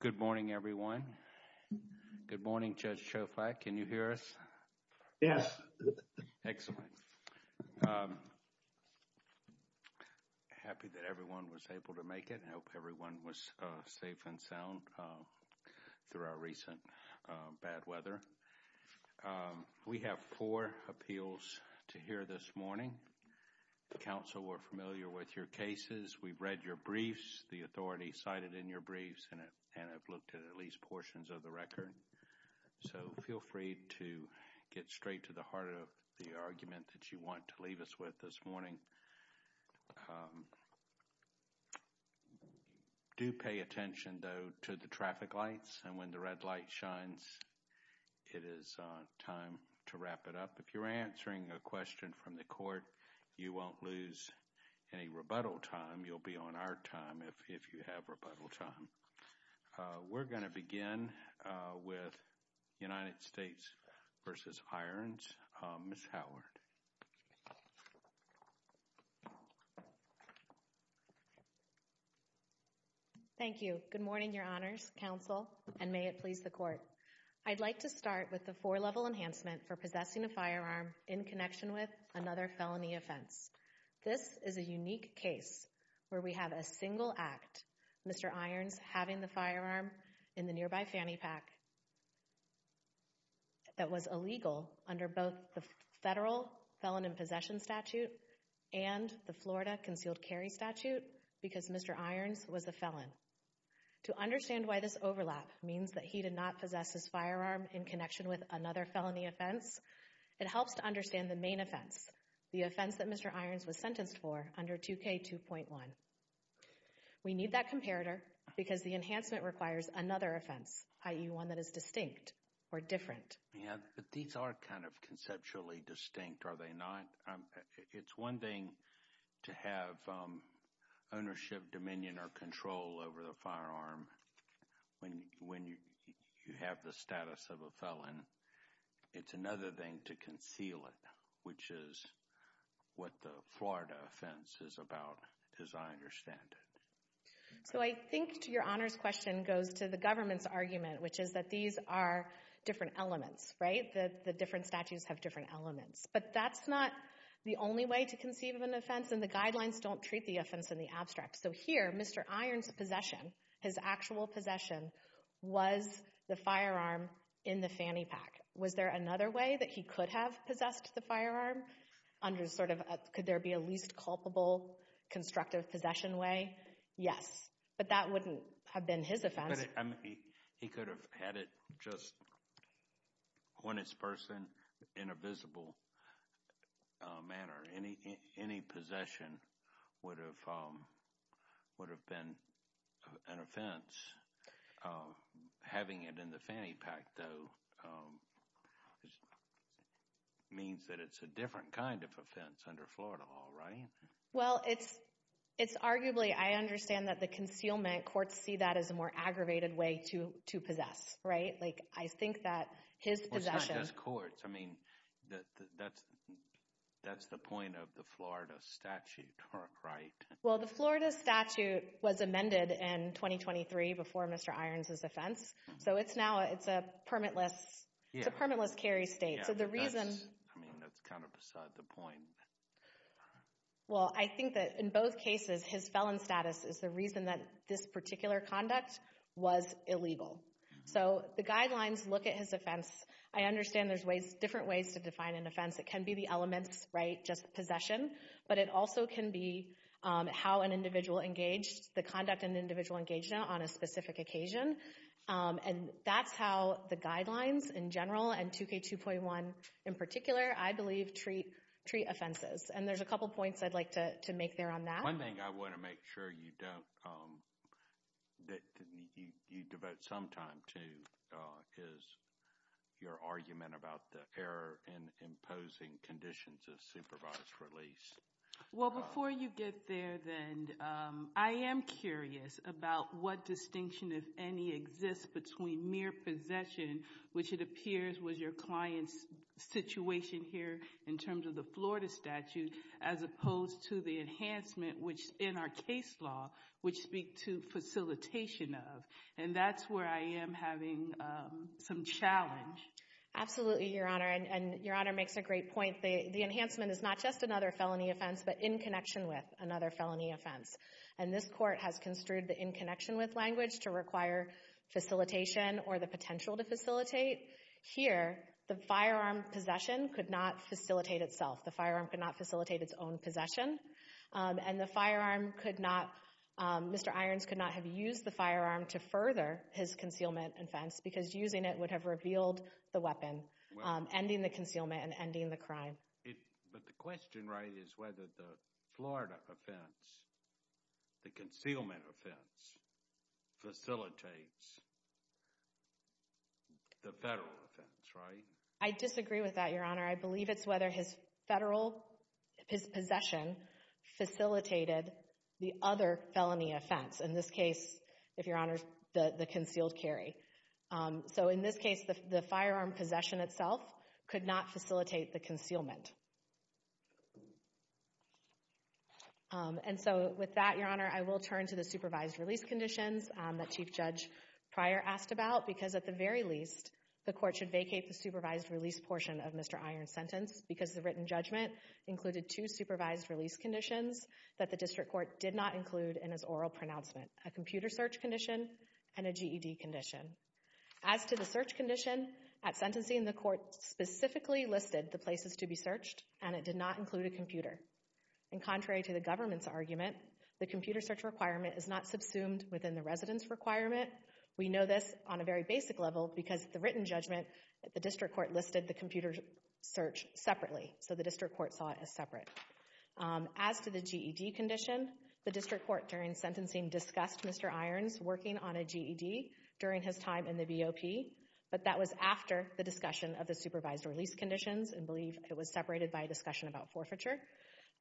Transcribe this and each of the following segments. Good morning, everyone. Good morning, Judge Shoflak. Can you hear us? Yes. Excellent. Happy that everyone was able to make it. I hope everyone was safe and sound through our recent bad weather. We have four appeals to hear this morning. The counsel were familiar with your cases. We've read your briefs, the authority cited in your briefs, and have looked at at least portions of the record. So feel free to get straight to the heart of the argument that you want to leave us with this morning. Do pay attention, though, to the traffic lights, and when the red light shines, it is time to wrap it up. If you're answering a question from the court, you won't lose any rebuttal time. You'll be on our time, if you have rebuttal time. We're going to begin with United States v. Irons, Ms. Howard. Thank you. Good morning, Your Honors, Counsel, and may it please the Court. I'd like to start with the four-level enhancement for possessing a firearm in connection with another felony offense. This is a unique case where we have a single act, Mr. Irons having the firearm in the nearby fanny pack that was illegal under both the federal Felon in Possession statute and the Florida Concealed Carry statute because Mr. Irons was a felon. To understand why this overlap means that he did not possess his firearm in connection with another felony offense, it helps to understand the main offense, the offense that Mr. Irons was sentenced for under 2K2.1. We need that comparator because the enhancement requires another offense, i.e., one that is distinct or different. Yeah, but these are kind of conceptually distinct, are they not? It's one thing to have ownership, dominion, or control over the firearm when you have the status of a felon. It's another thing to conceal it, which is what the Florida offense is about, as I understand it. So I think, to Your Honors' question, goes to the government's argument, which is that these are different elements, right? The different statutes have different elements. But that's not the only way to conceive of an offense, and the guidelines don't treat the offense in the abstract. So here, Mr. Irons' possession, his actual possession, was the firearm in the fanny pack. Was there another way that he could have possessed the firearm under sort of, could there be a least culpable constructive possession way? Yes. But that wouldn't have been his offense. But he could have had it just on his person in a visible manner. Any possession would have been an offense. Having it in the fanny pack, though, means that it's a different kind of offense under Florida law, right? Well, it's arguably, I understand that the concealment courts see that as a more aggravated way to possess, right? I think that his possession— Well, it's not just courts. I mean, that's the point of the Florida statute, right? Well, the Florida statute was amended in 2023 before Mr. Irons' offense. So it's now, it's a permitless carry state. So the reason— I mean, that's kind of beside the point. Well, I think that in both cases, his felon status is the reason that this particular conduct was illegal. So the guidelines look at his offense. I understand there's ways, different ways to define an offense. It can be the elements, right, just possession. But it also can be how an individual engaged, the conduct and individual engagement on a specific occasion. And that's how the guidelines in general and 2K2.1 in particular, I believe, treat offenses. And there's a couple points I'd like to make there on that. One thing I want to make sure you don't, that you devote some time to is your argument about the error in imposing conditions of supervised release. Well, before you get there then, I am curious about what distinction, if any, exists between mere possession, which it appears was your client's situation here in terms of the Florida statute, as opposed to the enhancement, which in our case law, would speak to facilitation of. And that's where I am having some challenge. Absolutely, Your Honor. And Your Honor makes a great point. The enhancement is not just another felony offense, but in connection with another felony offense. And this court has construed the in connection with language to require facilitation or the potential to facilitate. Here, the firearm possession could not facilitate itself. The firearm could not facilitate its own possession. And the firearm could not, Mr. Irons could not have used the firearm to further his concealment offense because using it would have revealed the weapon, ending the concealment and ending the crime. But the question, right, is whether the Florida offense, the concealment offense, facilitates the federal offense, right? I disagree with that, Your Honor. I believe it's whether his federal, his possession facilitated the other felony offense. In this case, if Your Honor, the concealed carry. So in this case, the firearm possession itself could not facilitate the concealment. And so with that, Your Honor, I will turn to the supervised release conditions that Chief Judge Pryor asked about. Because at the very least, the court should vacate the supervised release portion of Mr. Iron's sentence because the written judgment included two supervised release conditions that the district court did not include in his oral pronouncement, a computer search condition and a GED condition. As to the search condition, at sentencing, the court specifically listed the places to be searched and it did not include a computer. And contrary to the government's argument, the computer search requirement is not subsumed within the residence requirement. We know this on a very basic level because the written judgment, the district court listed the computer search separately, so the district court saw it as separate. As to the GED condition, the district court during sentencing discussed Mr. Iron's working on a GED during his time in the BEOP, but that was after the discussion of the supervised release conditions. I believe it was separated by a discussion about forfeiture.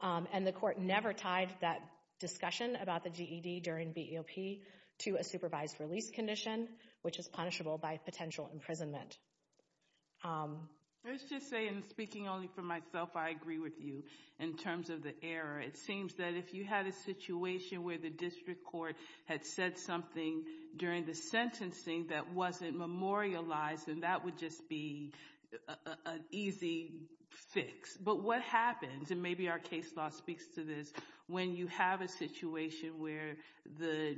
And the court never tied that discussion about the GED during BEOP to a supervised release condition, which is punishable by potential imprisonment. Let's just say, and speaking only for myself, I agree with you in terms of the error. It seems that if you had a situation where the district court had said something during the sentencing that wasn't memorialized, then that would just be an easy fix. But what happens, and maybe our case law speaks to this, when you have a situation where the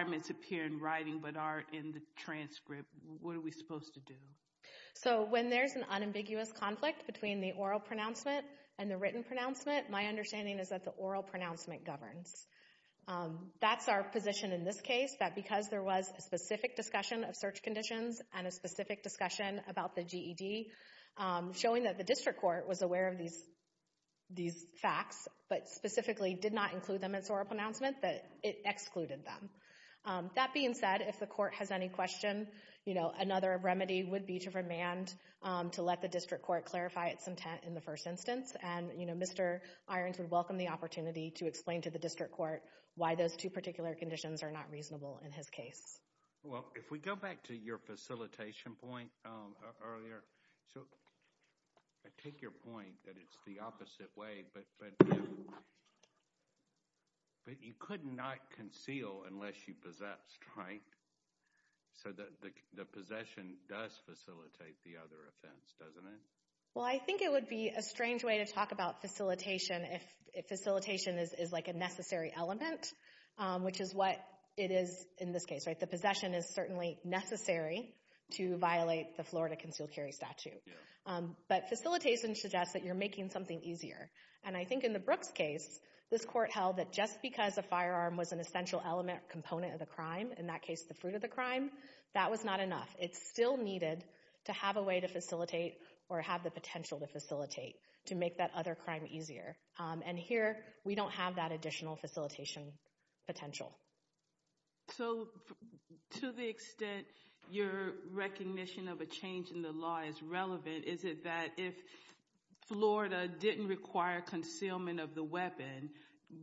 words appear in writing but aren't in the transcript, what are we supposed to do? So when there's an unambiguous conflict between the oral pronouncement and the written pronouncement, my understanding is that the oral pronouncement governs. That's our position in this case, that because there was a specific discussion of search conditions and a specific discussion about the GED, showing that the district court was aware of these facts, but specifically did not include them in its oral pronouncement, that it excluded them. That being said, if the court has any question, another remedy would be to remand to let the district court clarify its intent in the first instance, and Mr. Irons would welcome the opportunity to explain to the district court why those two particular conditions are not reasonable in his case. Well, if we go back to your facilitation point earlier, so I take your point that it's the opposite way, but you could not conceal unless you possessed, right? So the possession does facilitate the other offense, doesn't it? Well, I think it would be a strange way to talk about facilitation if facilitation is like a necessary element, which is what it is in this case, right? The possession is certainly necessary to violate the Florida concealed carry statute, but facilitation suggests that you're making something easier. And I think in the Brooks case, this court held that just because a firearm was an essential element or component of the crime, in that case the fruit of the crime, that was not enough. It still needed to have a way to facilitate or have the potential to facilitate to make that other crime easier. And here, we don't have that additional facilitation potential. So, to the extent your recognition of a change in the law is relevant, is it that if Florida didn't require concealment of the weapon,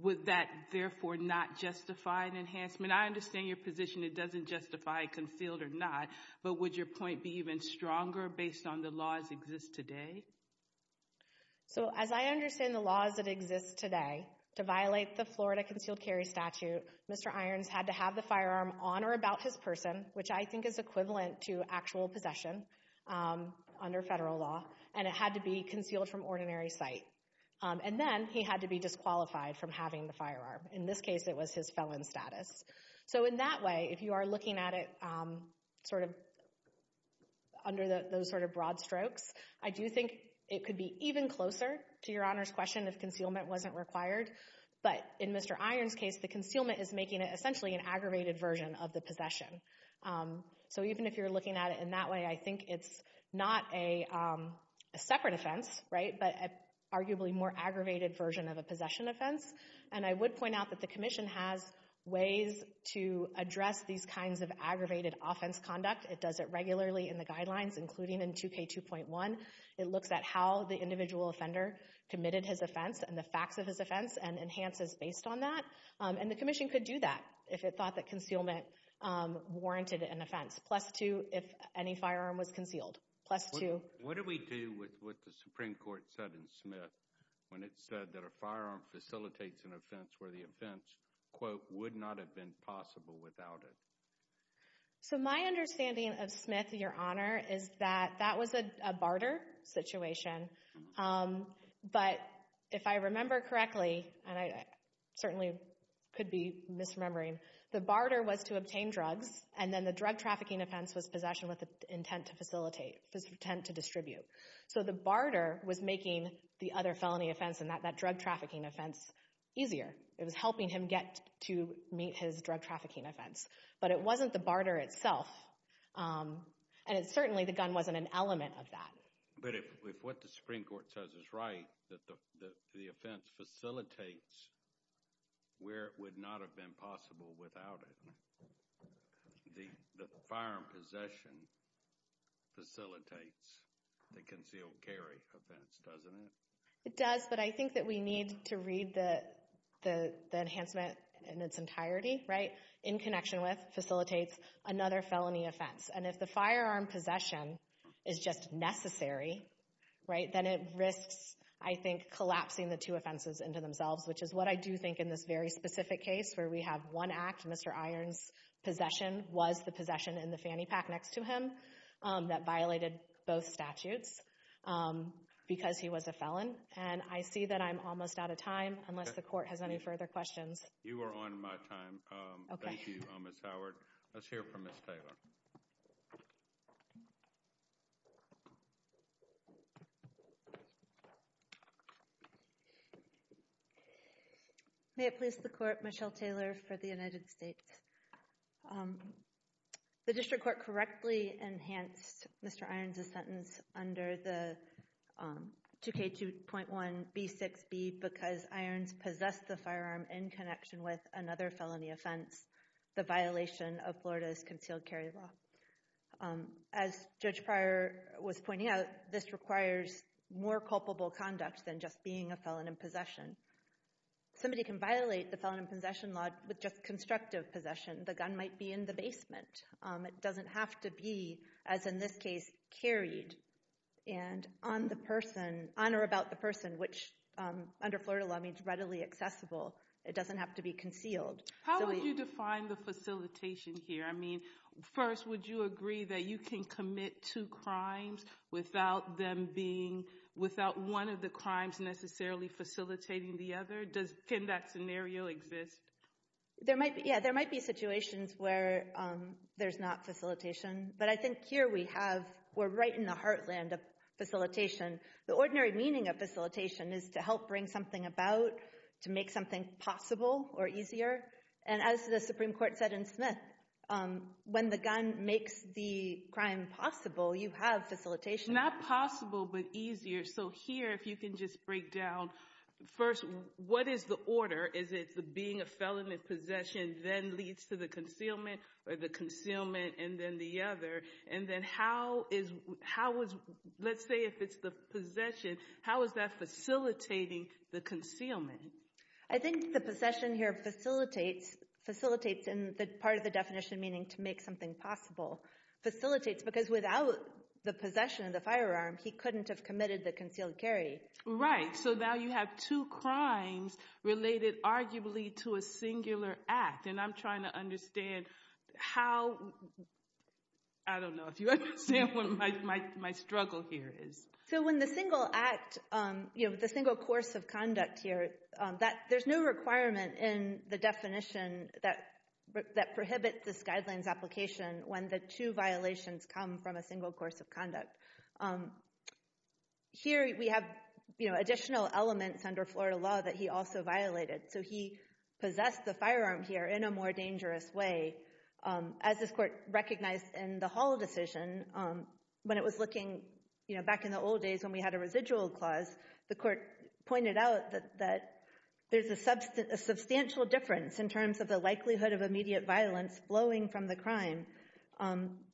would that therefore not justify an enhancement? I understand your position, it doesn't justify concealed or not, but would your point be even stronger based on the laws that exist today? So as I understand the laws that exist today to violate the Florida concealed carry statute, Mr. Irons had to have the firearm on or about his person, which I think is equivalent to actual possession under federal law, and it had to be concealed from ordinary sight. And then, he had to be disqualified from having the firearm. In this case, it was his felon status. So in that way, if you are looking at it sort of under those sort of broad strokes, I do think it could be even closer to your Honor's question if concealment wasn't required. But in Mr. Irons' case, the concealment is making it essentially an aggravated version of the possession. So even if you're looking at it in that way, I think it's not a separate offense, right, but arguably a more aggravated version of a possession offense. And I would point out that the Commission has ways to address these kinds of aggravated offense conduct. It does it regularly in the guidelines, including in 2K2.1. It looks at how the individual offender committed his offense and the facts of his offense and enhances based on that. And the Commission could do that if it thought that concealment warranted an offense, plus two if any firearm was concealed, plus two. What do we do with what the Supreme Court said in Smith when it said that a firearm facilitates an offense where the offense, quote, would not have been possible without it? So my understanding of Smith, Your Honor, is that that was a barter situation. But if I remember correctly, and I certainly could be misremembering, the barter was to obtain drugs and then the drug trafficking offense was possession with the intent to facilitate, intent to distribute. So the barter was making the other felony offense and that drug trafficking offense easier. It was helping him get to meet his drug trafficking offense. But it wasn't the barter itself. And it certainly, the gun wasn't an element of that. But if what the Supreme Court says is right, that the offense facilitates where it would not have been possible without it, the firearm possession facilitates the concealed carry offense, doesn't it? It does, but I think that we need to read the enhancement in its entirety, right? In connection with, facilitates another felony offense. And if the firearm possession is just necessary, right, then it risks, I think, collapsing the two offenses into themselves, which is what I do think in this very specific case where we have one act, Mr. Iron's possession was the possession in the fanny pack next to him that violated both statutes because he was a felon. And I see that I'm almost out of time unless the court has any further questions. You are on my time. Okay. Thank you, Ms. Howard. Let's hear from Ms. Taylor. May it please the court, Michelle Taylor for the United States. The district court correctly enhanced Mr. Iron's sentence under the 2K2.1b6b because Mr. Iron's possessed the firearm in connection with another felony offense, the violation of Florida's concealed carry law. As Judge Pryor was pointing out, this requires more culpable conduct than just being a felon in possession. Somebody can violate the felon in possession law with just constructive possession. The gun might be in the basement. It doesn't have to be, as in this case, carried and on the person, on or about the person, which under Florida law means readily accessible. It doesn't have to be concealed. How would you define the facilitation here? I mean, first, would you agree that you can commit two crimes without one of the crimes necessarily facilitating the other? Can that scenario exist? There might be situations where there's not facilitation, but I think here we have, we're right in the heartland of facilitation. The ordinary meaning of facilitation is to help bring something about, to make something possible or easier. And as the Supreme Court said in Smith, when the gun makes the crime possible, you have facilitation. Not possible, but easier. So here, if you can just break down, first, what is the order? Is it the being a felon in possession then leads to the concealment or the concealment and then the other? And then how is, let's say if it's the possession, how is that facilitating the concealment? I think the possession here facilitates, and part of the definition meaning to make something possible, facilitates because without the possession of the firearm, he couldn't have committed the concealed carry. Right. So now you have two crimes related arguably to a singular act. And I'm trying to understand how, I don't know if you understand what my struggle here is. So when the single act, the single course of conduct here, there's no requirement in the definition that prohibits this guidelines application when the two violations come from a single course of conduct. Here we have additional elements under Florida law that he also violated. So he possessed the firearm here in a more dangerous way. As this court recognized in the Hall decision, when it was looking back in the old days when we had a residual clause, the court pointed out that there's a substantial difference in terms of the likelihood of immediate violence flowing from the crime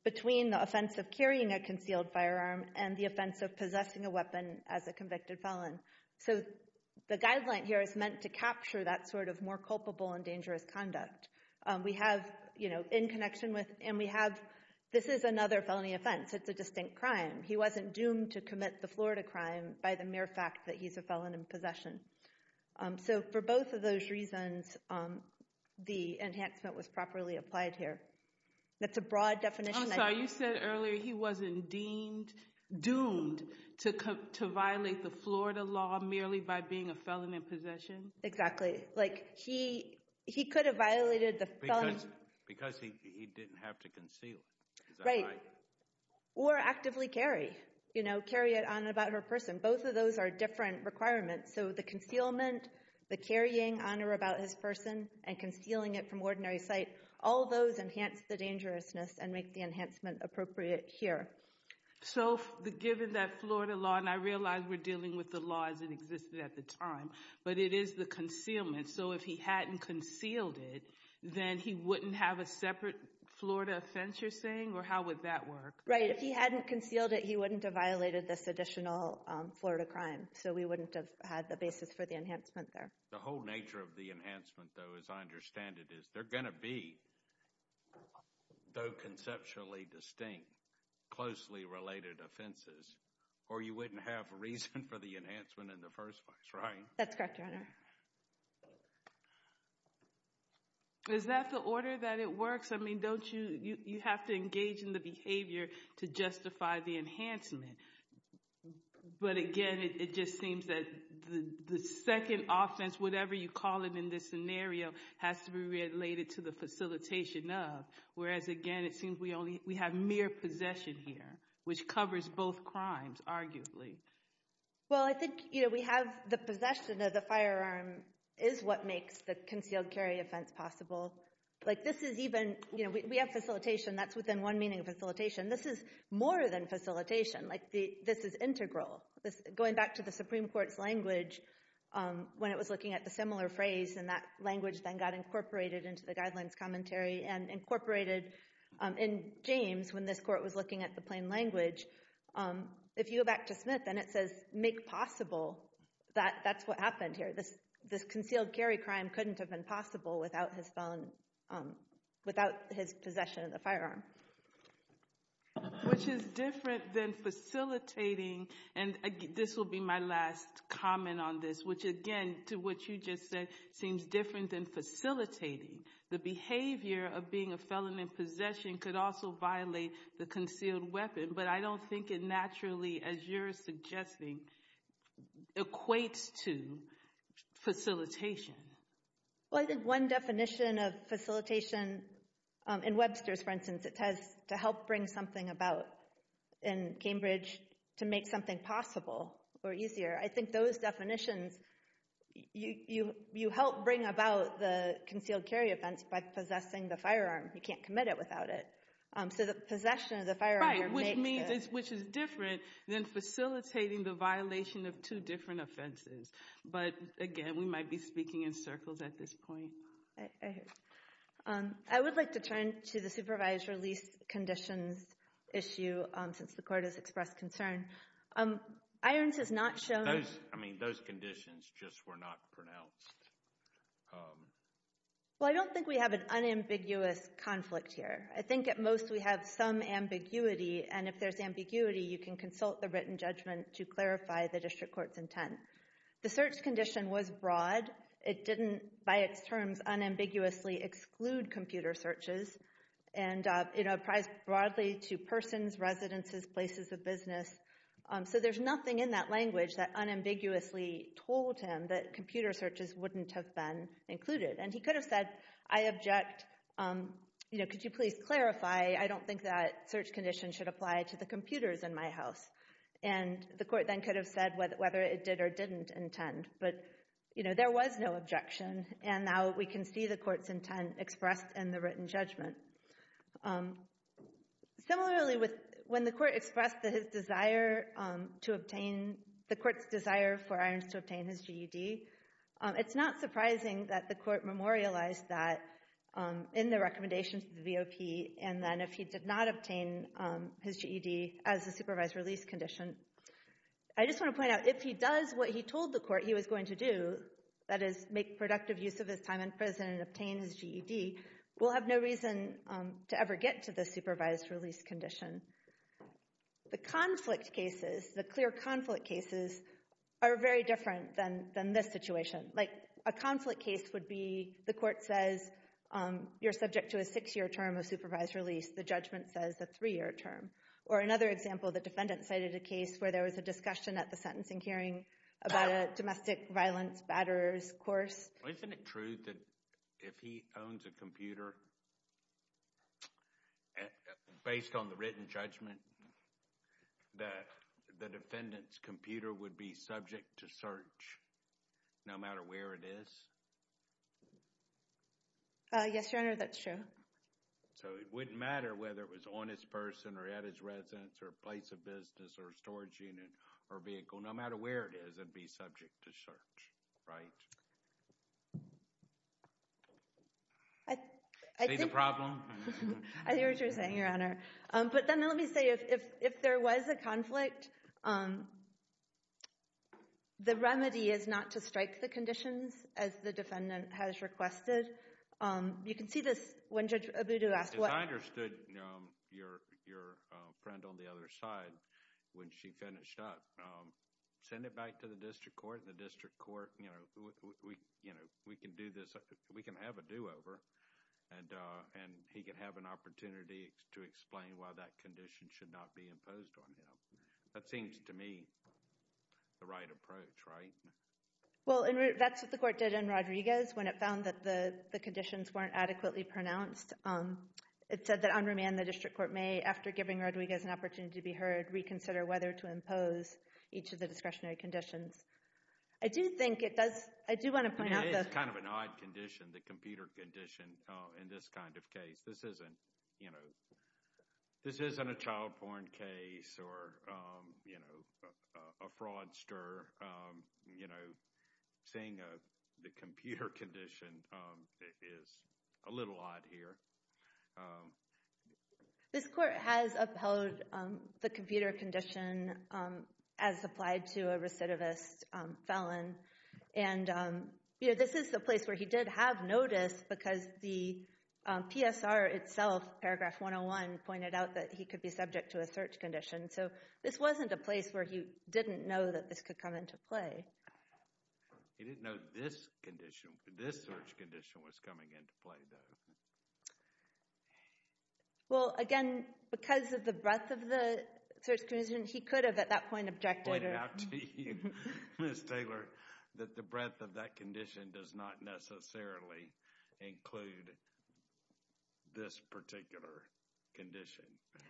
between the offense of carrying a concealed firearm and the offense of possessing a weapon as a convicted felon. So the guideline here is meant to capture that sort of more culpable and dangerous conduct. We have in connection with, and we have, this is another felony offense. It's a distinct crime. He wasn't doomed to commit the Florida crime by the mere fact that he's a felon in possession. So for both of those reasons, the enhancement was properly applied here. That's a broad definition. I'm sorry, you said earlier he wasn't deemed, doomed to violate the Florida law merely by being a felon in possession? Exactly. Like he could have violated the felony. Because he didn't have to conceal it, is that right? Right. Or actively carry. You know, carry it on about her person. Both of those are different requirements. So the concealment, the carrying on or about his person, and concealing it from ordinary sight, all those enhance the dangerousness and make the enhancement appropriate here. So given that Florida law, and I realize we're dealing with the law as it existed at the time, but it is the concealment. So if he hadn't concealed it, then he wouldn't have a separate Florida offense, you're saying? Or how would that work? Right. If he hadn't concealed it, he wouldn't have violated this additional Florida crime. So we wouldn't have had the basis for the enhancement there. The whole nature of the enhancement, though, as I understand it, is they're going to be, though conceptually distinct, closely related offenses. Or you wouldn't have a reason for the enhancement in the first place, right? That's correct, Your Honor. Is that the order that it works? I mean, don't you, you have to engage in the behavior to justify the enhancement. But again, it just seems that the second offense, whatever you call it in this scenario, has to be related to the facilitation of, whereas again, it seems we only, we have mere possession here, which covers both crimes, arguably. Well, I think, you know, we have the possession of the firearm is what makes the concealed carry offense possible. Like this is even, you know, we have facilitation, that's within one meaning of facilitation. This is more than facilitation, like this is integral. Going back to the Supreme Court's language, when it was looking at the similar phrase and that language then got incorporated into the guidelines commentary and incorporated in James when this court was looking at the plain language. If you go back to Smith and it says, make possible, that's what happened here. This concealed carry crime couldn't have been possible without his possession of the firearm. Which is different than facilitating, and this will be my last comment on this, which again, to what you just said, seems different than facilitating. The behavior of being a felon in possession could also violate the concealed weapon, but I don't think it naturally, as you're suggesting, equates to facilitation. Well, I think one definition of facilitation, in Webster's, for instance, it has to help bring something about in Cambridge to make something possible or easier. I think those definitions, you help bring about the concealed carry offense by possessing the firearm. You can't commit it without it. So the possession of the firearm makes it. Right, which means, which is different than facilitating the violation of two different offenses. But again, we might be speaking in circles at this point. I would like to turn to the supervised release conditions issue, since the court has expressed concern. Irons has not shown. Those, I mean, those conditions just were not pronounced. Well, I don't think we have an unambiguous conflict here. I think at most we have some ambiguity, and if there's ambiguity, you can consult the written judgment to clarify the district court's intent. The search condition was broad. It didn't, by its terms, unambiguously exclude computer searches. And it applies broadly to persons, residences, places of business. So there's nothing in that language that unambiguously told him that computer searches wouldn't have been included. And he could have said, I object, you know, could you please clarify, I don't think that search condition should apply to the computers in my house. And the court then could have said whether it did or didn't intend. But, you know, there was no objection, and now we can see the court's intent expressed in the written judgment. Similarly, when the court expressed his desire to obtain, the court's desire for Irons to obtain his GED, it's not surprising that the court memorialized that in the recommendations of the VOP, and then if he did not obtain his GED as a supervised release condition. I just want to point out, if he does what he told the court he was going to do, that is make productive use of his time in prison and obtain his GED, we'll have no reason to ever get to the supervised release condition. The conflict cases, the clear conflict cases, are very different than this situation. Like, a conflict case would be, the court says, you're subject to a six-year term of supervised release, the judgment says a three-year term. Or another example, the defendant cited a case where there was a discussion at the sentencing hearing about a domestic violence batterer's course. Isn't it true that if he owns a computer, based on the written judgment, that the defendant's computer would be subject to search, no matter where it is? Yes, Your Honor, that's true. So it wouldn't matter whether it was on his person or at his residence or place of business or storage unit or vehicle, no matter where it is, it would be subject to search, right? See the problem? I hear what you're saying, Your Honor. But then let me say, if there was a conflict, the remedy is not to strike the conditions as the defendant has requested. You can see this when Judge Abudu asked what— As I understood, your friend on the other side, when she finished up, sent it back to the district court, and the district court, you know, we can do this, we can have a do-over, and he can have an opportunity to explain why that condition should not be imposed on him. That seems to me the right approach, right? Well, that's what the court did in Rodriguez when it found that the conditions weren't adequately pronounced. It said that on remand, the district court may, after giving Rodriguez an opportunity to be heard, reconsider whether to impose each of the discretionary conditions. I do think it does—I do want to point out— That's kind of an odd condition, the computer condition, in this kind of case. This isn't, you know, this isn't a child porn case or, you know, a fraudster. You know, saying the computer condition is a little odd here. This court has upheld the computer condition as applied to a recidivist felon. And, you know, this is the place where he did have notice because the PSR itself, paragraph 101, pointed out that he could be subject to a search condition. So this wasn't a place where he didn't know that this could come into play. He didn't know this condition, this search condition, was coming into play, though. Well, again, because of the breadth of the search condition, he could have, at that point, objected. I pointed out to you, Ms. Taylor, that the breadth of that condition does not necessarily include this particular condition.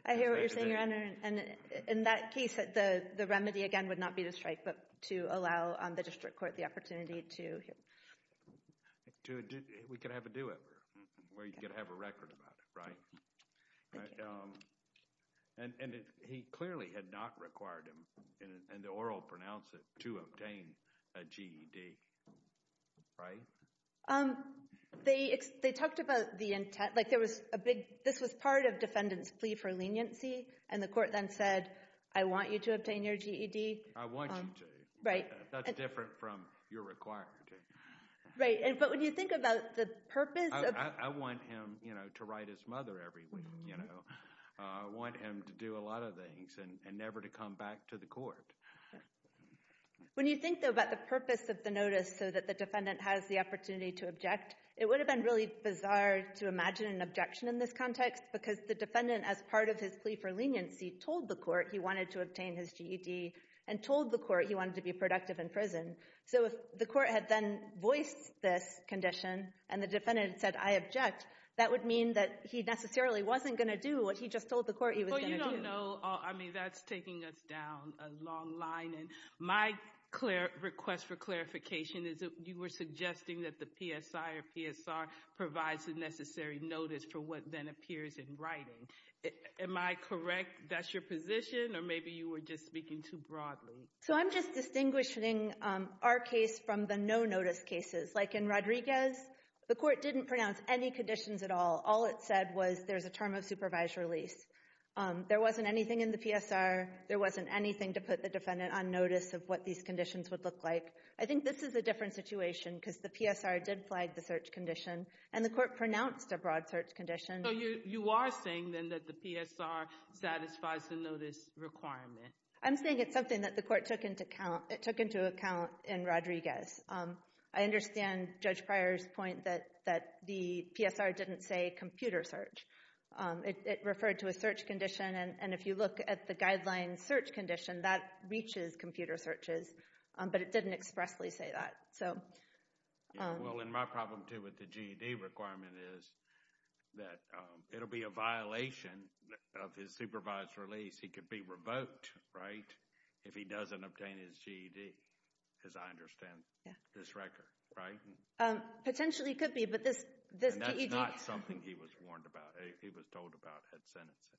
I hear what you're saying, Your Honor. And in that case, the remedy, again, would not be to strike, but to allow the district court the opportunity to hear. We could have a do-over where you could have a record about it, right? And he clearly had not required him, and the oral pronounced it, to obtain a GED, right? They talked about the intent. Like there was a big – this was part of defendant's plea for leniency, and the court then said, I want you to obtain your GED. I want you to. Right. That's different from your requirement. Right. But when you think about the purpose of – I want him to write his mother every week. I want him to do a lot of things and never to come back to the court. When you think, though, about the purpose of the notice so that the defendant has the opportunity to object, it would have been really bizarre to imagine an objection in this context because the defendant, as part of his plea for leniency, told the court he wanted to obtain his GED and told the court he wanted to be productive in prison. So if the court had then voiced this condition and the defendant had said, I object, that would mean that he necessarily wasn't going to do what he just told the court he was going to do. Well, you don't know. I mean, that's taking us down a long line. And my request for clarification is that you were suggesting that the PSI or PSR provides the necessary notice for what then appears in writing. Am I correct that's your position, or maybe you were just speaking too broadly? So I'm just distinguishing our case from the no-notice cases. Like in Rodriguez, the court didn't pronounce any conditions at all. All it said was there's a term of supervised release. There wasn't anything in the PSR. There wasn't anything to put the defendant on notice of what these conditions would look like. I think this is a different situation because the PSR did flag the search condition, and the court pronounced a broad search condition. So you are saying, then, that the PSR satisfies the notice requirement? I'm saying it's something that the court took into account in Rodriguez. I understand Judge Pryor's point that the PSR didn't say computer search. It referred to a search condition, and if you look at the guideline search condition, that reaches computer searches, but it didn't expressly say that. Well, and my problem, too, with the GED requirement is that it will be a violation of his supervised release. He could be revoked, right, if he doesn't obtain his GED, as I understand this record, right? Potentially he could be, but this GED— And that's not something he was warned about. He was told about it at sentencing.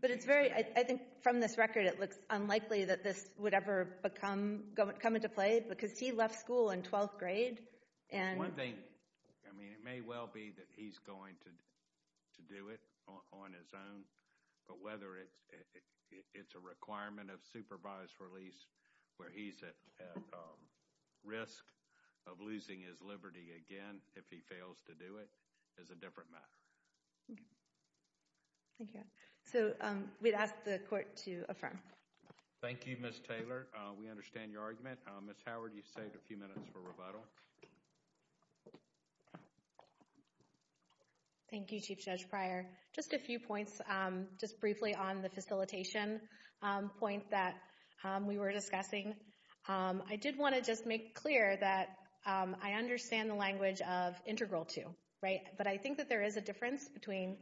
But it's very—I think from this record it looks unlikely that this would ever come into play because he left school in 12th grade. One thing—I mean, it may well be that he's going to do it on his own, but whether it's a requirement of supervised release where he's at risk of losing his liberty again if he fails to do it is a different matter. Thank you. So we'd ask the court to affirm. Thank you, Ms. Taylor. We understand your argument. Ms. Howard, you saved a few minutes for rebuttal. Thank you, Chief Judge Pryor. Just a few points, just briefly on the facilitation point that we were discussing. I did want to just make clear that I understand the language of integral to, right? But I think that there is a difference between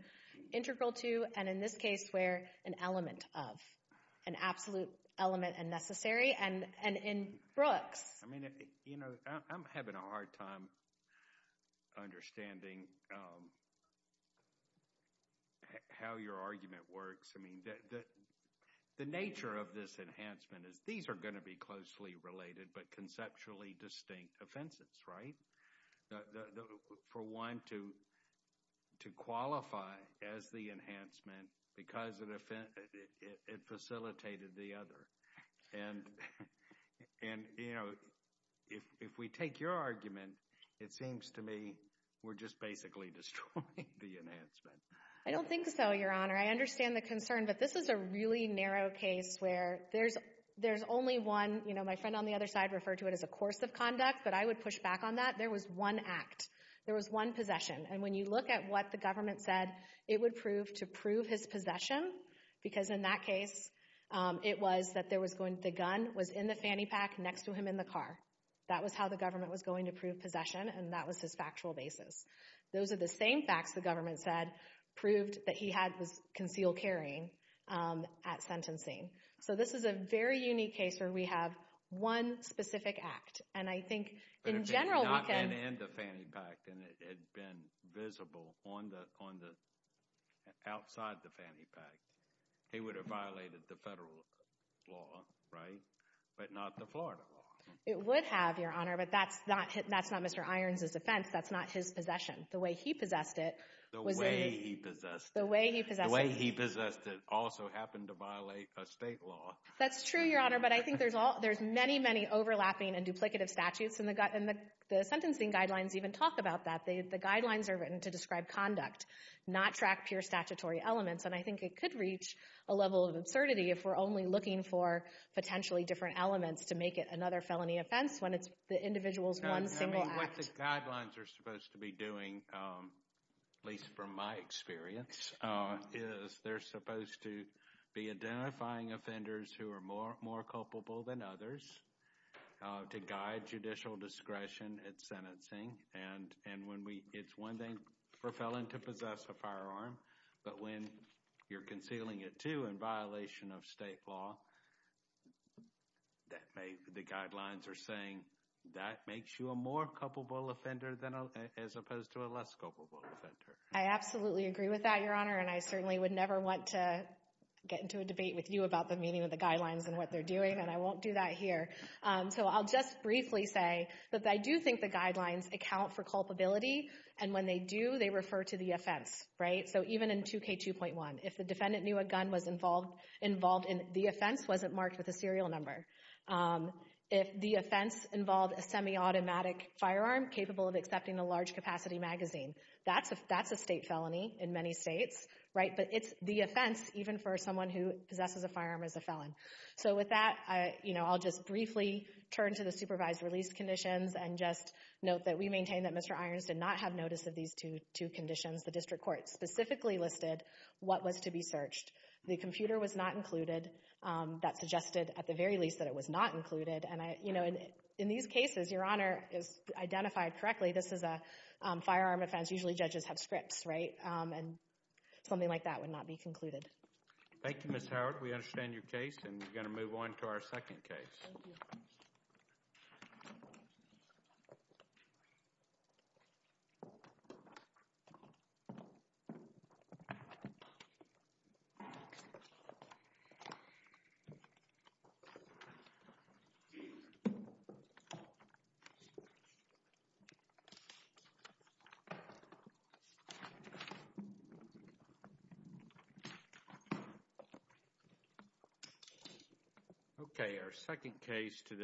integral to and, in this case, where an element of, an absolute element and necessary, and in Brooks. I mean, you know, I'm having a hard time understanding how your argument works. I mean, the nature of this enhancement is these are going to be closely related but conceptually distinct offenses, right? For one to qualify as the enhancement because it facilitated the other. And, you know, if we take your argument, it seems to me we're just basically destroying the enhancement. I don't think so, Your Honor. I understand the concern. But this is a really narrow case where there's only one, you know, my friend on the other side referred to it as a course of conduct, but I would push back on that. There was one act. There was one possession. And when you look at what the government said, it would prove to prove his possession because, in that case, it was that the gun was in the fanny pack next to him in the car. That was how the government was going to prove possession, and that was his factual basis. Those are the same facts the government said proved that he had concealed carrying at sentencing. So this is a very unique case where we have one specific act. And I think, in general, we can— He would have violated the federal law, right, but not the Florida law. It would have, Your Honor, but that's not Mr. Irons' offense. That's not his possession. The way he possessed it was a— The way he possessed it. The way he possessed it. The way he possessed it also happened to violate a state law. That's true, Your Honor, but I think there's many, many overlapping and duplicative statutes, and the sentencing guidelines even talk about that. The guidelines are written to describe conduct, not track pure statutory elements, and I think it could reach a level of absurdity if we're only looking for potentially different elements to make it another felony offense when it's the individual's one single act. What the guidelines are supposed to be doing, at least from my experience, is they're supposed to be identifying offenders who are more culpable than others to guide judicial discretion at sentencing. And when we—It's one thing for a felon to possess a firearm, but when you're concealing it, too, in violation of state law, the guidelines are saying that makes you a more culpable offender as opposed to a less culpable offender. I absolutely agree with that, Your Honor, and I certainly would never want to get into a debate with you about the meaning of the guidelines and what they're doing, and I won't do that here. So I'll just briefly say that I do think the guidelines account for culpability, and when they do, they refer to the offense, right? So even in 2K2.1, if the defendant knew a gun was involved, the offense wasn't marked with a serial number. If the offense involved a semi-automatic firearm capable of accepting a large-capacity magazine, that's a state felony in many states, right? But it's the offense even for someone who possesses a firearm as a felon. So with that, I'll just briefly turn to the supervised release conditions and just note that we maintain that Mr. Irons did not have notice of these two conditions. The district court specifically listed what was to be searched. The computer was not included. That suggested, at the very least, that it was not included. And, you know, in these cases, Your Honor, as identified correctly, this is a firearm offense. Usually judges have scripts, right? And something like that would not be concluded. Thank you, Ms. Howard. We understand your case, and we're going to move on to our second case. Thank you. Thank you.